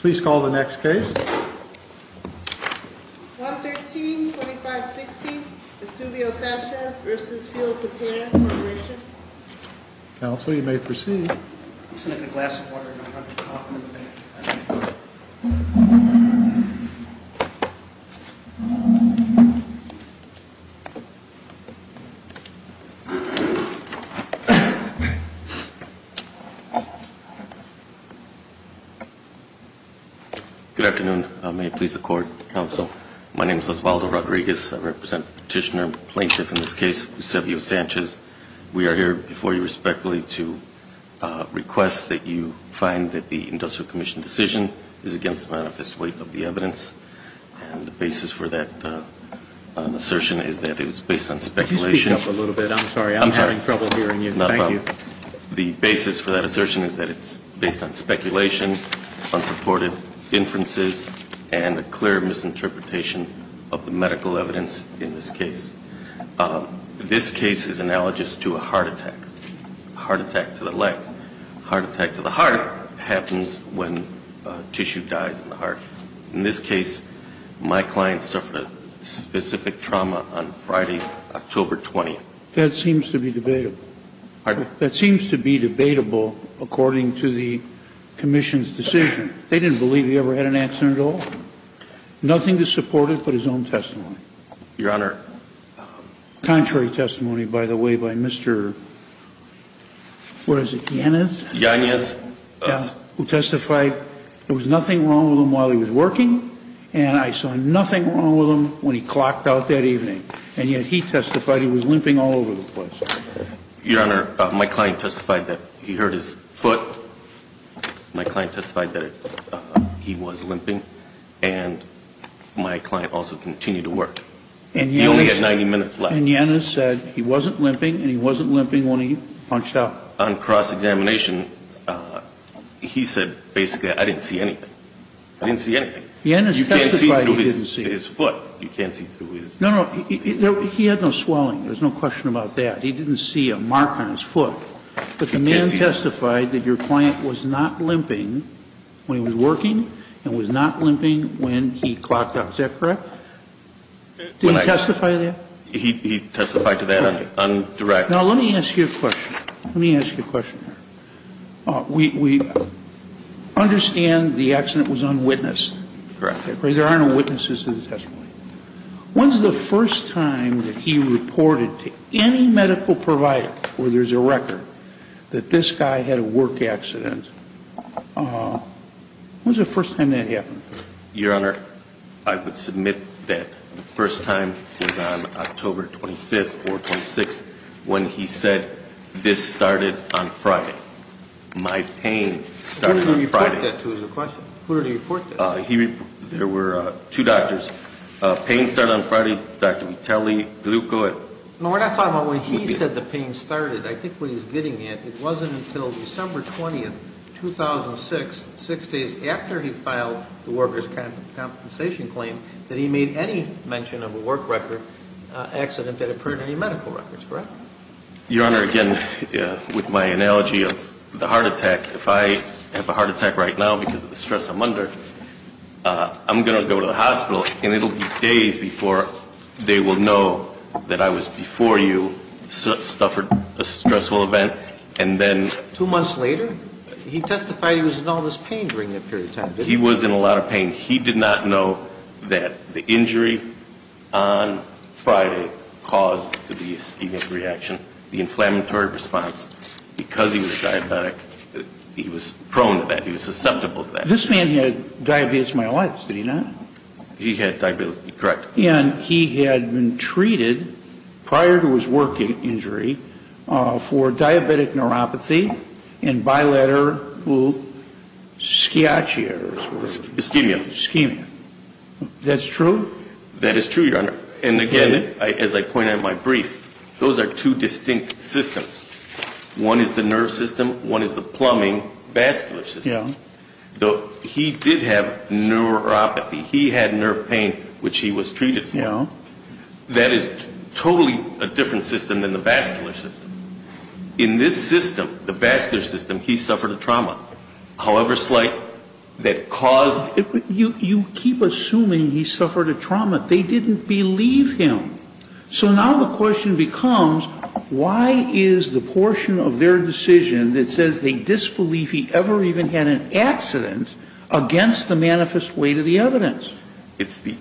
Please call the next case. 1132560 Esuvio Sanchez v. Field Potato Corporation Counsel, you may proceed. I'm just going to get a glass of water and a cup of coffee in the bank. Good afternoon. May it please the Court, Counsel. My name is Osvaldo Rodriguez. I represent Petitioner Plaintiff in this case, Esuvio Sanchez. We are here before you respectfully to request that you find that the Industrial Commission decision is against the manifest weight of the evidence. And the basis for that assertion is that it was based on speculation. Could you speak up a little bit? I'm sorry. I'm having trouble hearing you. Thank you. The basis for that assertion is that it's based on speculation, unsupported inferences, and a clear misinterpretation of the medical evidence in this case. This case is analogous to a heart attack, a heart attack to the leg. A heart attack to the heart happens when tissue dies in the heart. In this case, my client suffered a specific trauma on Friday, October 20th. That seems to be debatable. Pardon? That seems to be debatable according to the Commission's decision. They didn't believe he ever had an accident at all. Nothing to support it but his own testimony. Your Honor. Contrary testimony, by the way, by Mr. Yanez, who testified there was nothing wrong with him while he was working. And I saw nothing wrong with him when he clocked out that evening. And yet he testified he was limping all over the place. Your Honor, my client testified that he hurt his foot. My client testified that he was limping. And my client also continued to work. He only had 90 minutes left. And Yanez said he wasn't limping and he wasn't limping when he punched out. On cross-examination, he said basically I didn't see anything. I didn't see anything. Yanez testified he didn't see. You can't see through his foot. You can't see through his foot. No, no. He had no swelling. There's no question about that. He didn't see a mark on his foot. But the man testified that your client was not limping when he was working and was not limping when he clocked out. Is that correct? Did he testify to that? He testified to that on direct. Now, let me ask you a question. Let me ask you a question. We understand the accident was unwitnessed. Correct. There are no witnesses to the testimony. When's the first time that he reported to any medical provider where there's a record that this guy had a work accident? When's the first time that happened? Your Honor, I would submit that the first time was on October 25th or 26th when he said this started on Friday. My pain started on Friday. Who did he report that to is the question. Who did he report that to? There were two doctors. Pain started on Friday. Dr. Vitelli, glucose. No, we're not talking about when he said the pain started. I think what he's getting at, it wasn't until December 20th, 2006, six days after he filed the worker's compensation claim, that he made any mention of a work record accident that occurred in any medical records. Correct? Your Honor, again, with my analogy of the heart attack, if I have a heart attack right now because of the stress I'm under, I'm going to go to the hospital, and it will be days before they will know that I was before you, suffered a stressful event, and then ‑‑ Two months later? He testified he was in all this pain during that period of time. He was in a lot of pain. He did not know that the injury on Friday caused the B-spemic reaction, the inflammatory response, because he was diabetic, he was prone to that. He was susceptible to that. This man had diabetes myelitis, did he not? He had diabetes. Correct. And he had been treated prior to his work injury for diabetic neuropathy and bilateral ischemia. Ischemia. Ischemia. That's true? That is true, Your Honor. And, again, as I pointed out in my brief, those are two distinct systems. One is the nerve system, one is the plumbing vascular system. He did have neuropathy. He had nerve pain, which he was treated for. That is totally a different system than the vascular system. In this system, the vascular system, he suffered a trauma, however slight, that caused ‑‑ You keep assuming he suffered a trauma. He suffered a trauma. They didn't believe him. So now the question becomes, why is the portion of their decision that says they disbelieve he ever even had an accident against the manifest weight of the evidence? It's the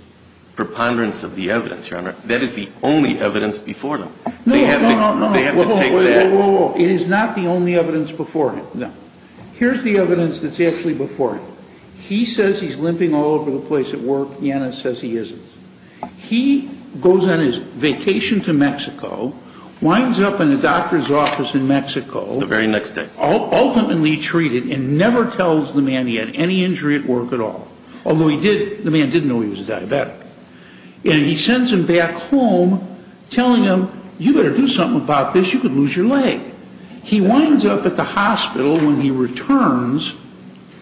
preponderance of the evidence, Your Honor. That is the only evidence before them. No, no, no. They have to take that. Whoa, whoa, whoa. It is not the only evidence before him, no. Here's the evidence that's actually before him. He says he's limping all over the place at work. Janice says he isn't. He goes on his vacation to Mexico, winds up in a doctor's office in Mexico. The very next day. Ultimately treated and never tells the man he had any injury at work at all. Although he did, the man did know he was a diabetic. And he sends him back home telling him, you better do something about this. You could lose your leg. He winds up at the hospital when he returns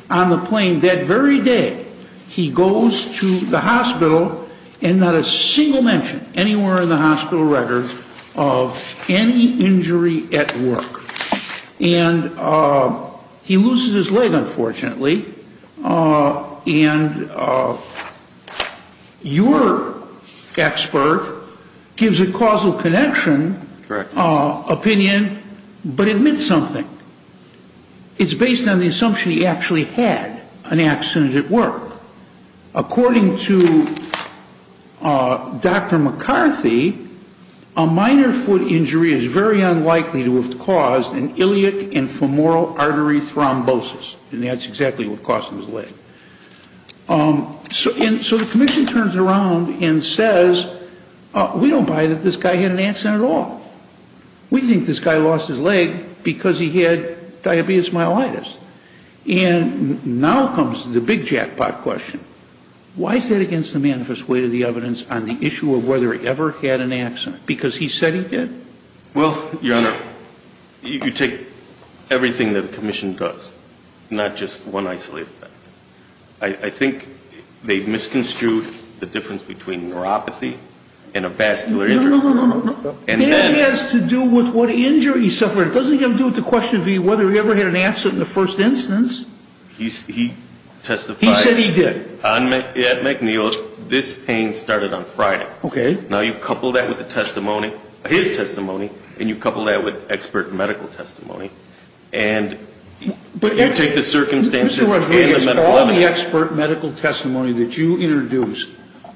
on the plane that very day. He goes to the hospital and not a single mention anywhere in the hospital record of any injury at work. And he loses his leg, unfortunately. And your expert gives a causal connection opinion, but admits something. It's based on the assumption he actually had an accident at work. According to Dr. McCarthy, a minor foot injury is very unlikely to have caused an iliac and femoral artery thrombosis. And that's exactly what caused him his leg. So the commission turns around and says, we don't buy that this guy had an accident at all. We think this guy lost his leg because he had diabetes myelitis. And now comes the big jackpot question. Why is that against the manifest way to the evidence on the issue of whether he ever had an accident? Because he said he did? Well, your Honor, you could take everything that the commission does, not just one isolated thing. I think they've misconstrued the difference between neuropathy and a vascular injury. No, no, no. That has to do with what injury he suffered. It doesn't have to do with the question of whether he ever had an accident in the first instance. He testified. He said he did. At McNeil's, this pain started on Friday. Okay. Now you couple that with the testimony, his testimony, and you couple that with expert medical testimony, and you take the circumstances and the medical evidence. Mr. Rodriguez, all the expert medical testimony that you introduced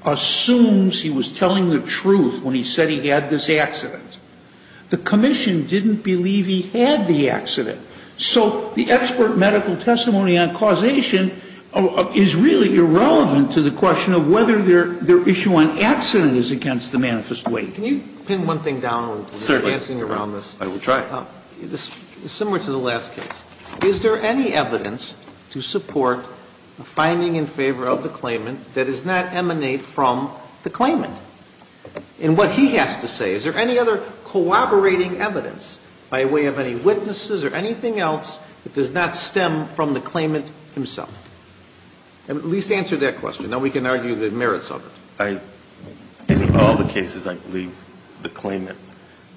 assumes he was telling the truth when he said he had this accident. The commission didn't believe he had the accident. So the expert medical testimony on causation is really irrelevant to the question of whether their issue on accident is against the manifest way. Can you pin one thing down? Certainly. I will try. Similar to the last case. Is there any evidence to support a finding in favor of the claimant that does not emanate from the claimant? And what he has to say, is there any other corroborating evidence by way of any witnesses or anything else that does not stem from the claimant himself? At least answer that question. Now we can argue the merits of it. In all the cases, I believe the claimant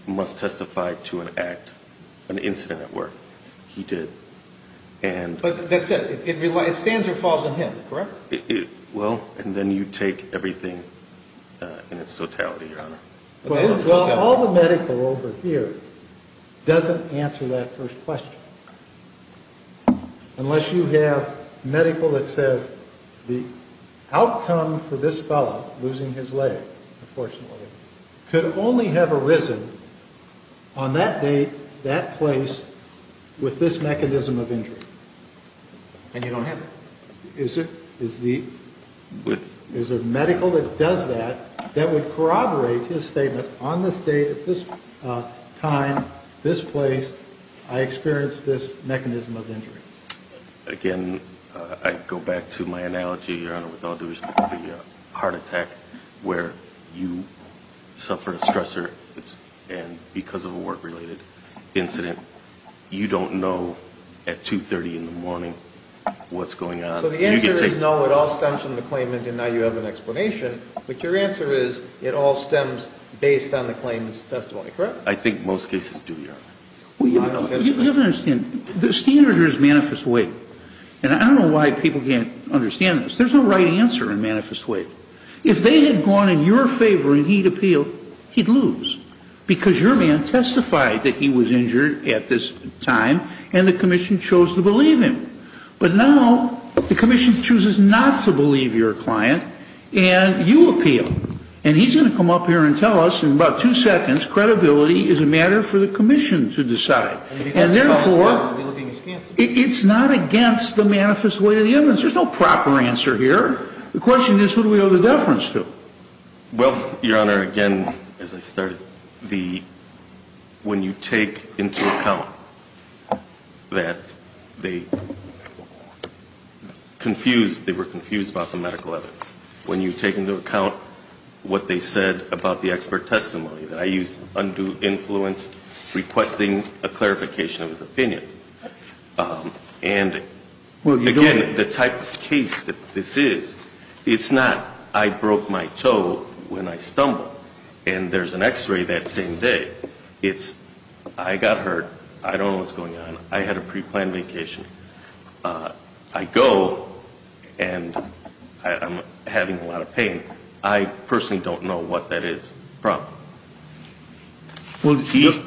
must testify to an act, an incident at work. He did. But that's it. It stands or falls on him, correct? And then you take everything in its totality, Your Honor. Well, all the medical over here doesn't answer that first question. Unless you have medical that says the outcome for this fellow, losing his leg, unfortunately, could only have arisen on that date, that place, with this mechanism of injury. And you don't have it. Is there medical that does that, that would corroborate his statement, on this date, at this time, this place, I experienced this mechanism of injury? Again, I go back to my analogy, Your Honor, with Aldous, the heart attack where you suffer a stressor, and because of a work-related incident, you don't know at 2.30 in the morning what's going on. So the answer is no. It all stems from the claimant, and now you have an explanation. But your answer is it all stems based on the claimant's testimony, correct? I think most cases do, Your Honor. Well, you don't understand. The standard here is manifest weight. And I don't know why people can't understand this. There's no right answer in manifest weight. If they had gone in your favor and he'd appealed, he'd lose, because your man testified that he was injured at this time, and the commission chose to believe him. But now the commission chooses not to believe your client, and you appeal. And he's going to come up here and tell us in about two seconds, credibility is a matter for the commission to decide. And therefore, it's not against the manifest weight of the evidence. There's no proper answer here. The question is, who do we owe the deference to? Well, Your Honor, again, as I started, the – when you take into account that the medical evidence, when you take into account what they said about the expert testimony, that I used undue influence requesting a clarification of his opinion. And, again, the type of case that this is, it's not I broke my toe when I stumbled and there's an x-ray that same day. It's I got hurt, I don't know what's going on, I had a preplanned vacation. I go and I'm having a lot of pain. I personally don't know what that is from. Well,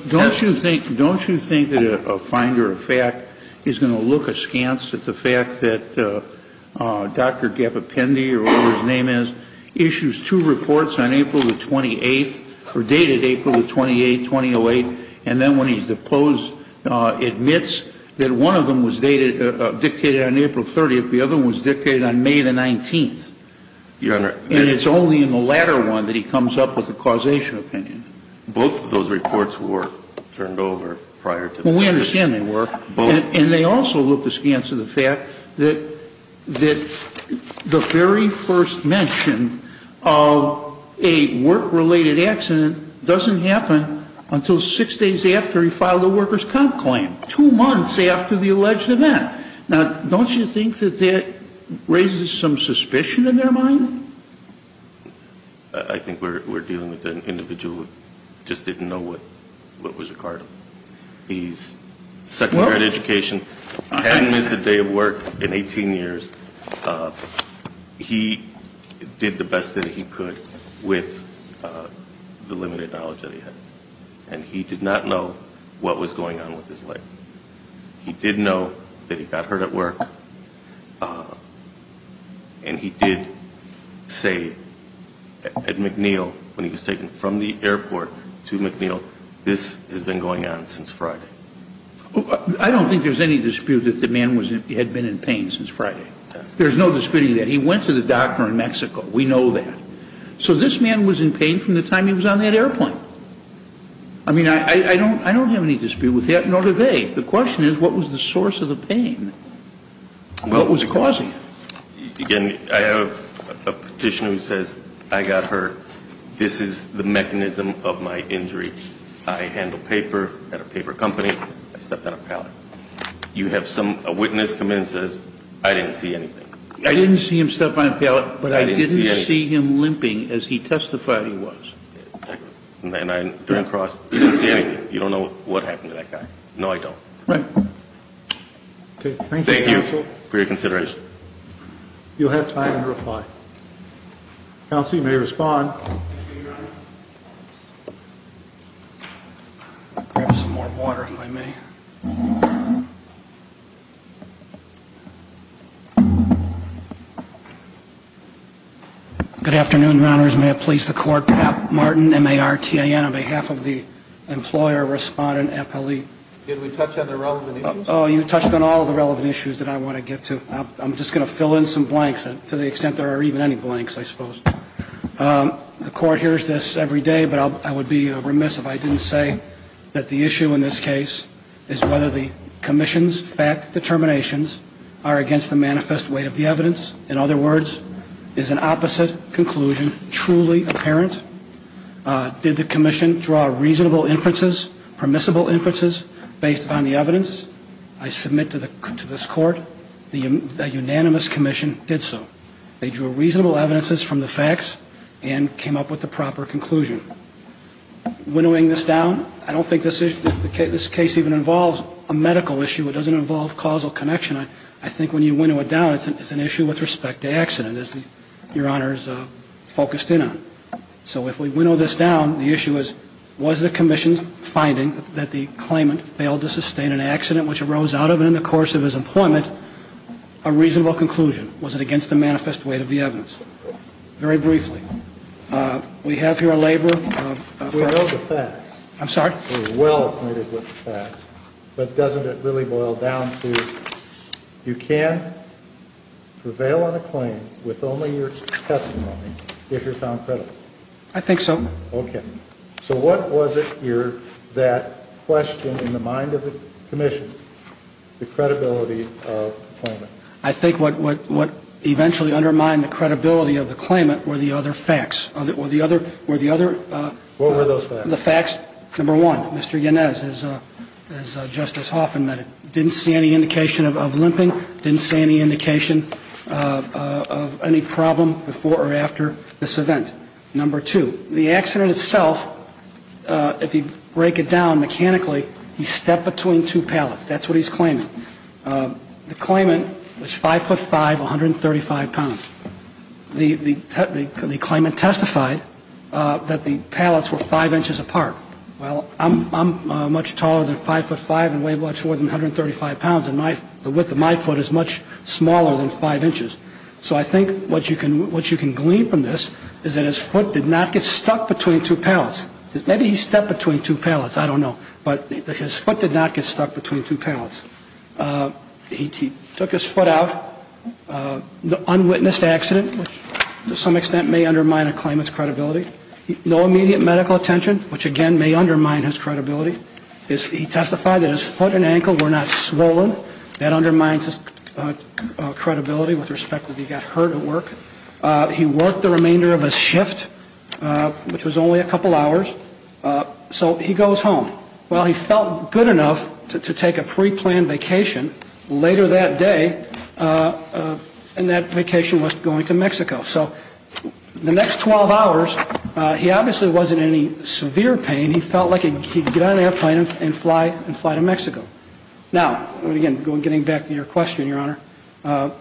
don't you think that a finder of fact is going to look askance at the fact that Dr. Gappapendi, or whatever his name is, issues two reports on April the 28th or dated April the 28th, 2008, and then when he's deposed, admits that one of them was dated – dictated on April 30th, the other one was dictated on May the 19th. Your Honor. And it's only in the latter one that he comes up with a causation opinion. Both of those reports were turned over prior to that. Well, we understand they were. Both. And they also look askance at the fact that the very first mention of a work-related accident doesn't happen until six days after he filed a workers' comp claim, two months after the alleged event. Now, don't you think that that raises some suspicion in their mind? I think we're dealing with an individual who just didn't know what was required. He's a second-year in education. He hadn't missed a day of work in 18 years. He did the best that he could with the limited knowledge that he had, and he did not know what was going on with his leg. He did know that he got hurt at work, and he did say at McNeil, when he was taken from the airport to McNeil, this has been going on since Friday. I don't think there's any dispute that the man had been in pain since Friday. There's no disputing that. He went to the doctor in Mexico. We know that. So this man was in pain from the time he was on that airplane. I mean, I don't have any dispute with that, nor do they. The question is, what was the source of the pain? What was causing it? Again, I have a petitioner who says, I got hurt. This is the mechanism of my injury. I handle paper at a paper company. I stepped on a pallet. You have a witness come in and says, I didn't see anything. I didn't see him step on a pallet, but I didn't see him limping as he testified he was. And I turn across, I didn't see anything. You don't know what happened to that guy. No, I don't. Right. Thank you for your consideration. You'll have time to reply. Counsel, you may respond. Thank you, Your Honor. I'll grab some more water, if I may. Good afternoon, Your Honors. May it please the Court. Pat Martin, M-A-R-T-A-N, on behalf of the employer, respondent, appellee. Did we touch on the relevant issues? Oh, you touched on all the relevant issues that I want to get to. I'm just going to fill in some blanks, to the extent there are even any blanks, I suppose. The Court hears this every day, but I would be remiss if I didn't say that the issue in this case is whether the commission's fact determinations are against the manifest weight of the evidence. In other words, is an opposite conclusion truly apparent? Did the commission draw reasonable inferences, permissible inferences, based on the evidence? I submit to this Court that a unanimous commission did so. They drew reasonable evidences from the facts and came up with the proper conclusion. Winnowing this down, I don't think this case even involves a medical issue. It doesn't involve causal connection. I think when you winnow it down, it's an issue with respect to accident, as Your Honor is focused in on. So if we winnow this down, the issue is, was the commission's finding that the claimant failed to sustain an accident which arose out of and in the course of his employment a reasonable conclusion? Was it against the manifest weight of the evidence? Very briefly. We have here a labor of... We know the facts. I'm sorry? We're well acquainted with the facts, but doesn't it really boil down to, you can prevail on a claim with only your testimony if you're found credible? I think so. Okay. So what was it here that questioned, in the mind of the commission, the credibility of the claimant? I think what eventually undermined the credibility of the claimant were the other facts. Were the other... What were those facts? The facts, number one, Mr. Yanez, as Justice Hoffman mentioned, didn't see any indication of limping, didn't see any indication of any problem before or after this event. Number two, the accident itself, if you break it down mechanically, he stepped between two pallets. That's what he's claiming. The claimant was 5'5", 135 pounds. The claimant testified that the pallets were 5 inches apart. Well, I'm much taller than 5'5", and weigh much more than 135 pounds, and the width of my foot is much smaller than 5 inches. So I think what you can glean from this is that his foot did not get stuck between two pallets. Maybe he stepped between two pallets. I don't know. But his foot did not get stuck between two pallets. He took his foot out. Unwitnessed accident, which to some extent may undermine a claimant's credibility. No immediate medical attention, which again may undermine his credibility. He testified that his foot and ankle were not swollen. That undermines his credibility with respect to if he got hurt at work. He worked the remainder of his shift, which was only a couple hours. So he goes home. Well, he felt good enough to take a preplanned vacation later that day, and that vacation was going to Mexico. So the next 12 hours, he obviously wasn't in any severe pain. He felt like he could get on an airplane and fly to Mexico. Now, again, getting back to your question, Your Honor,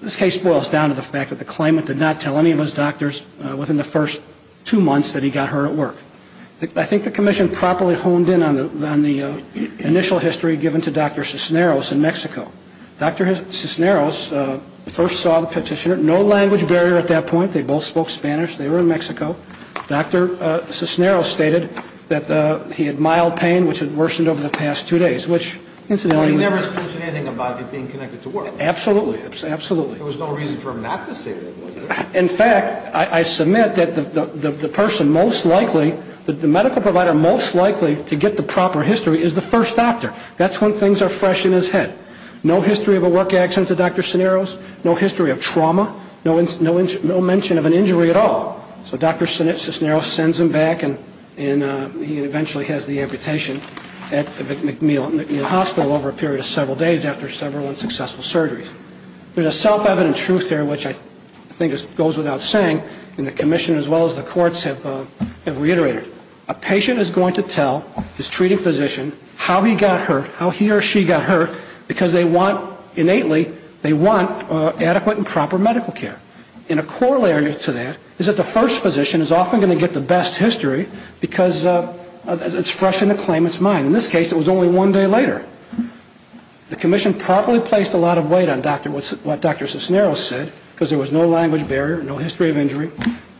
this case boils down to the fact that the claimant did not tell any of his doctors within the first two months that he got hurt at work. I think the commission properly honed in on the initial history given to Dr. Cisneros in Mexico. Dr. Cisneros first saw the petitioner. No language barrier at that point. They both spoke Spanish. They were in Mexico. Dr. Cisneros stated that he had mild pain, which had worsened over the past two days, which incidentally was not true. Well, he never has mentioned anything about it being connected to work. Absolutely. Absolutely. There was no reason for him not to say that, was there? In fact, I submit that the person most likely, the medical provider most likely to get the proper history is the first doctor. That's when things are fresh in his head. No history of a work accident to Dr. Cisneros. No history of trauma. No mention of an injury at all. So Dr. Cisneros sends him back, and he eventually has the amputation at McNeil Hospital over a period of several days after several unsuccessful surgeries. There's a self-evident truth there, which I think goes without saying, and the commission as well as the courts have reiterated. A patient is going to tell his treating physician how he got hurt, how he or she got hurt, because they want, innately, they want adequate and proper medical care. And a corollary to that is that the first physician is often going to get the best history because it's fresh in the claimant's mind. In this case, it was only one day later. The commission probably placed a lot of weight on what Dr. Cisneros said because there was no language barrier, no history of injury,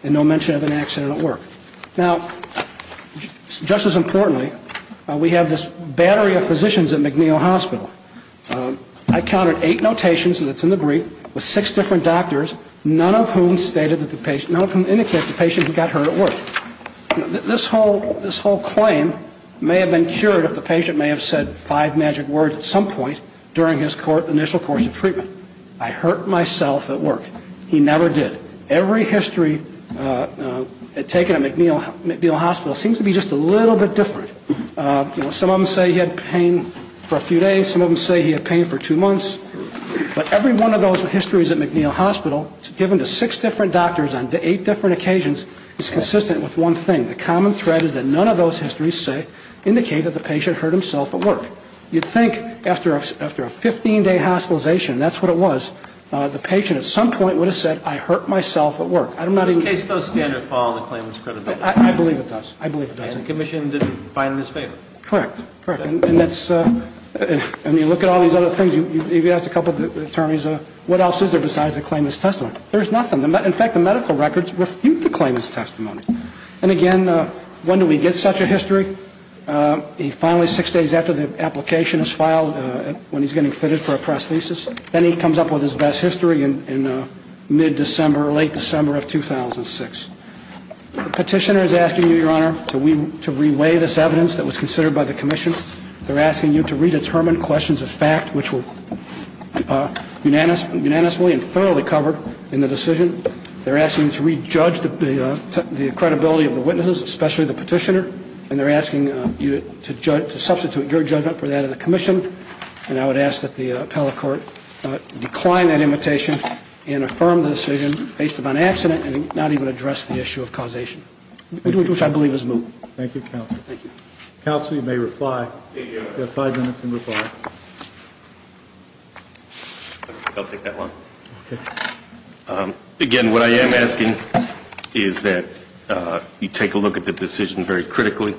and no mention of an accident at work. Now, just as importantly, we have this battery of physicians at McNeil Hospital. I counted eight notations that's in the brief with six different doctors, none of whom stated that the patient, none of whom indicated the patient who got hurt at work. This whole claim may have been cured if the patient may have said five magic words at some point during his initial course of treatment. I hurt myself at work. He never did. Every history taken at McNeil Hospital seems to be just a little bit different. Some of them say he had pain for a few days. Some of them say he had pain for two months. But every one of those histories at McNeil Hospital, given to six different doctors on eight different occasions, is consistent with one thing. The common thread is that none of those histories say, indicate that the patient hurt himself at work. You'd think after a 15-day hospitalization, that's what it was, the patient at some point would have said, I hurt myself at work. I don't know. This case does standard follow the claimant's credibility. I believe it does. I believe it does. And the commission didn't find it in his favor. Correct, correct. And you look at all these other things. You've asked a couple of attorneys, what else is there besides the claimant's testimony? There's nothing. In fact, the medical records refute the claimant's testimony. And again, when do we get such a history? Finally, six days after the application is filed, when he's getting fitted for a prosthesis. Then he comes up with his best history in mid-December, late December of 2006. The petitioner is asking you, Your Honor, to re-weigh this evidence that was considered by the commission. They're asking you to re-determine questions of fact, which were unanimously and thoroughly covered in the decision. They're asking you to re-judge the credibility of the witnesses, especially the petitioner. And they're asking you to substitute your judgment for that of the commission. And I would ask that the appellate court decline that invitation and affirm the decision based upon accident and not even address the issue of causation, which I believe is moved. Thank you, counsel. Counsel, you may reply. You have five minutes to reply. I'll take that one. Again, what I am asking is that you take a look at the decision very critically,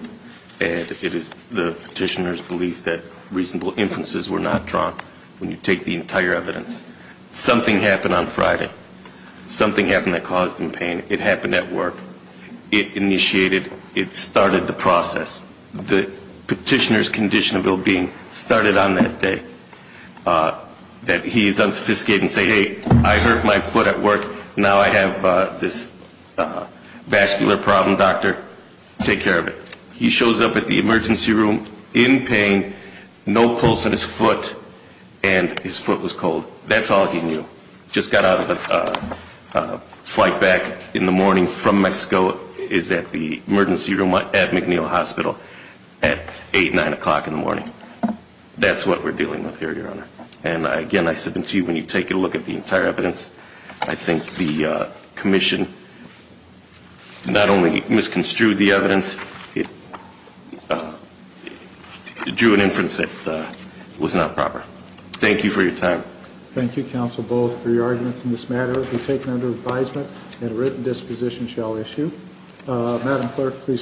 and it is the petitioner's belief that reasonable inferences were not drawn when you take the entire evidence. Something happened on Friday. Something happened that caused him pain. It happened at work. It initiated, it started the process. The petitioner's condition of ill-being started on that day. That he is unsophisticated in saying, Hey, I hurt my foot at work. Now I have this vascular problem, doctor. Take care of it. He shows up at the emergency room in pain, no pulse in his foot, and his foot was cold. That's all he knew. Just got out of a flight back in the morning from Mexico, is at the emergency room at McNeil Hospital at 8, 9 o'clock in the morning. That's what we're dealing with here, Your Honor. And again, I submit to you when you take a look at the entire evidence, I think the commission not only misconstrued the evidence, it drew an inference that it was not proper. Thank you for your time. Thank you, Counsel Bowles, for your arguments in this matter. It will be taken under advisement, and a written disposition shall issue. Madam Clerk, please.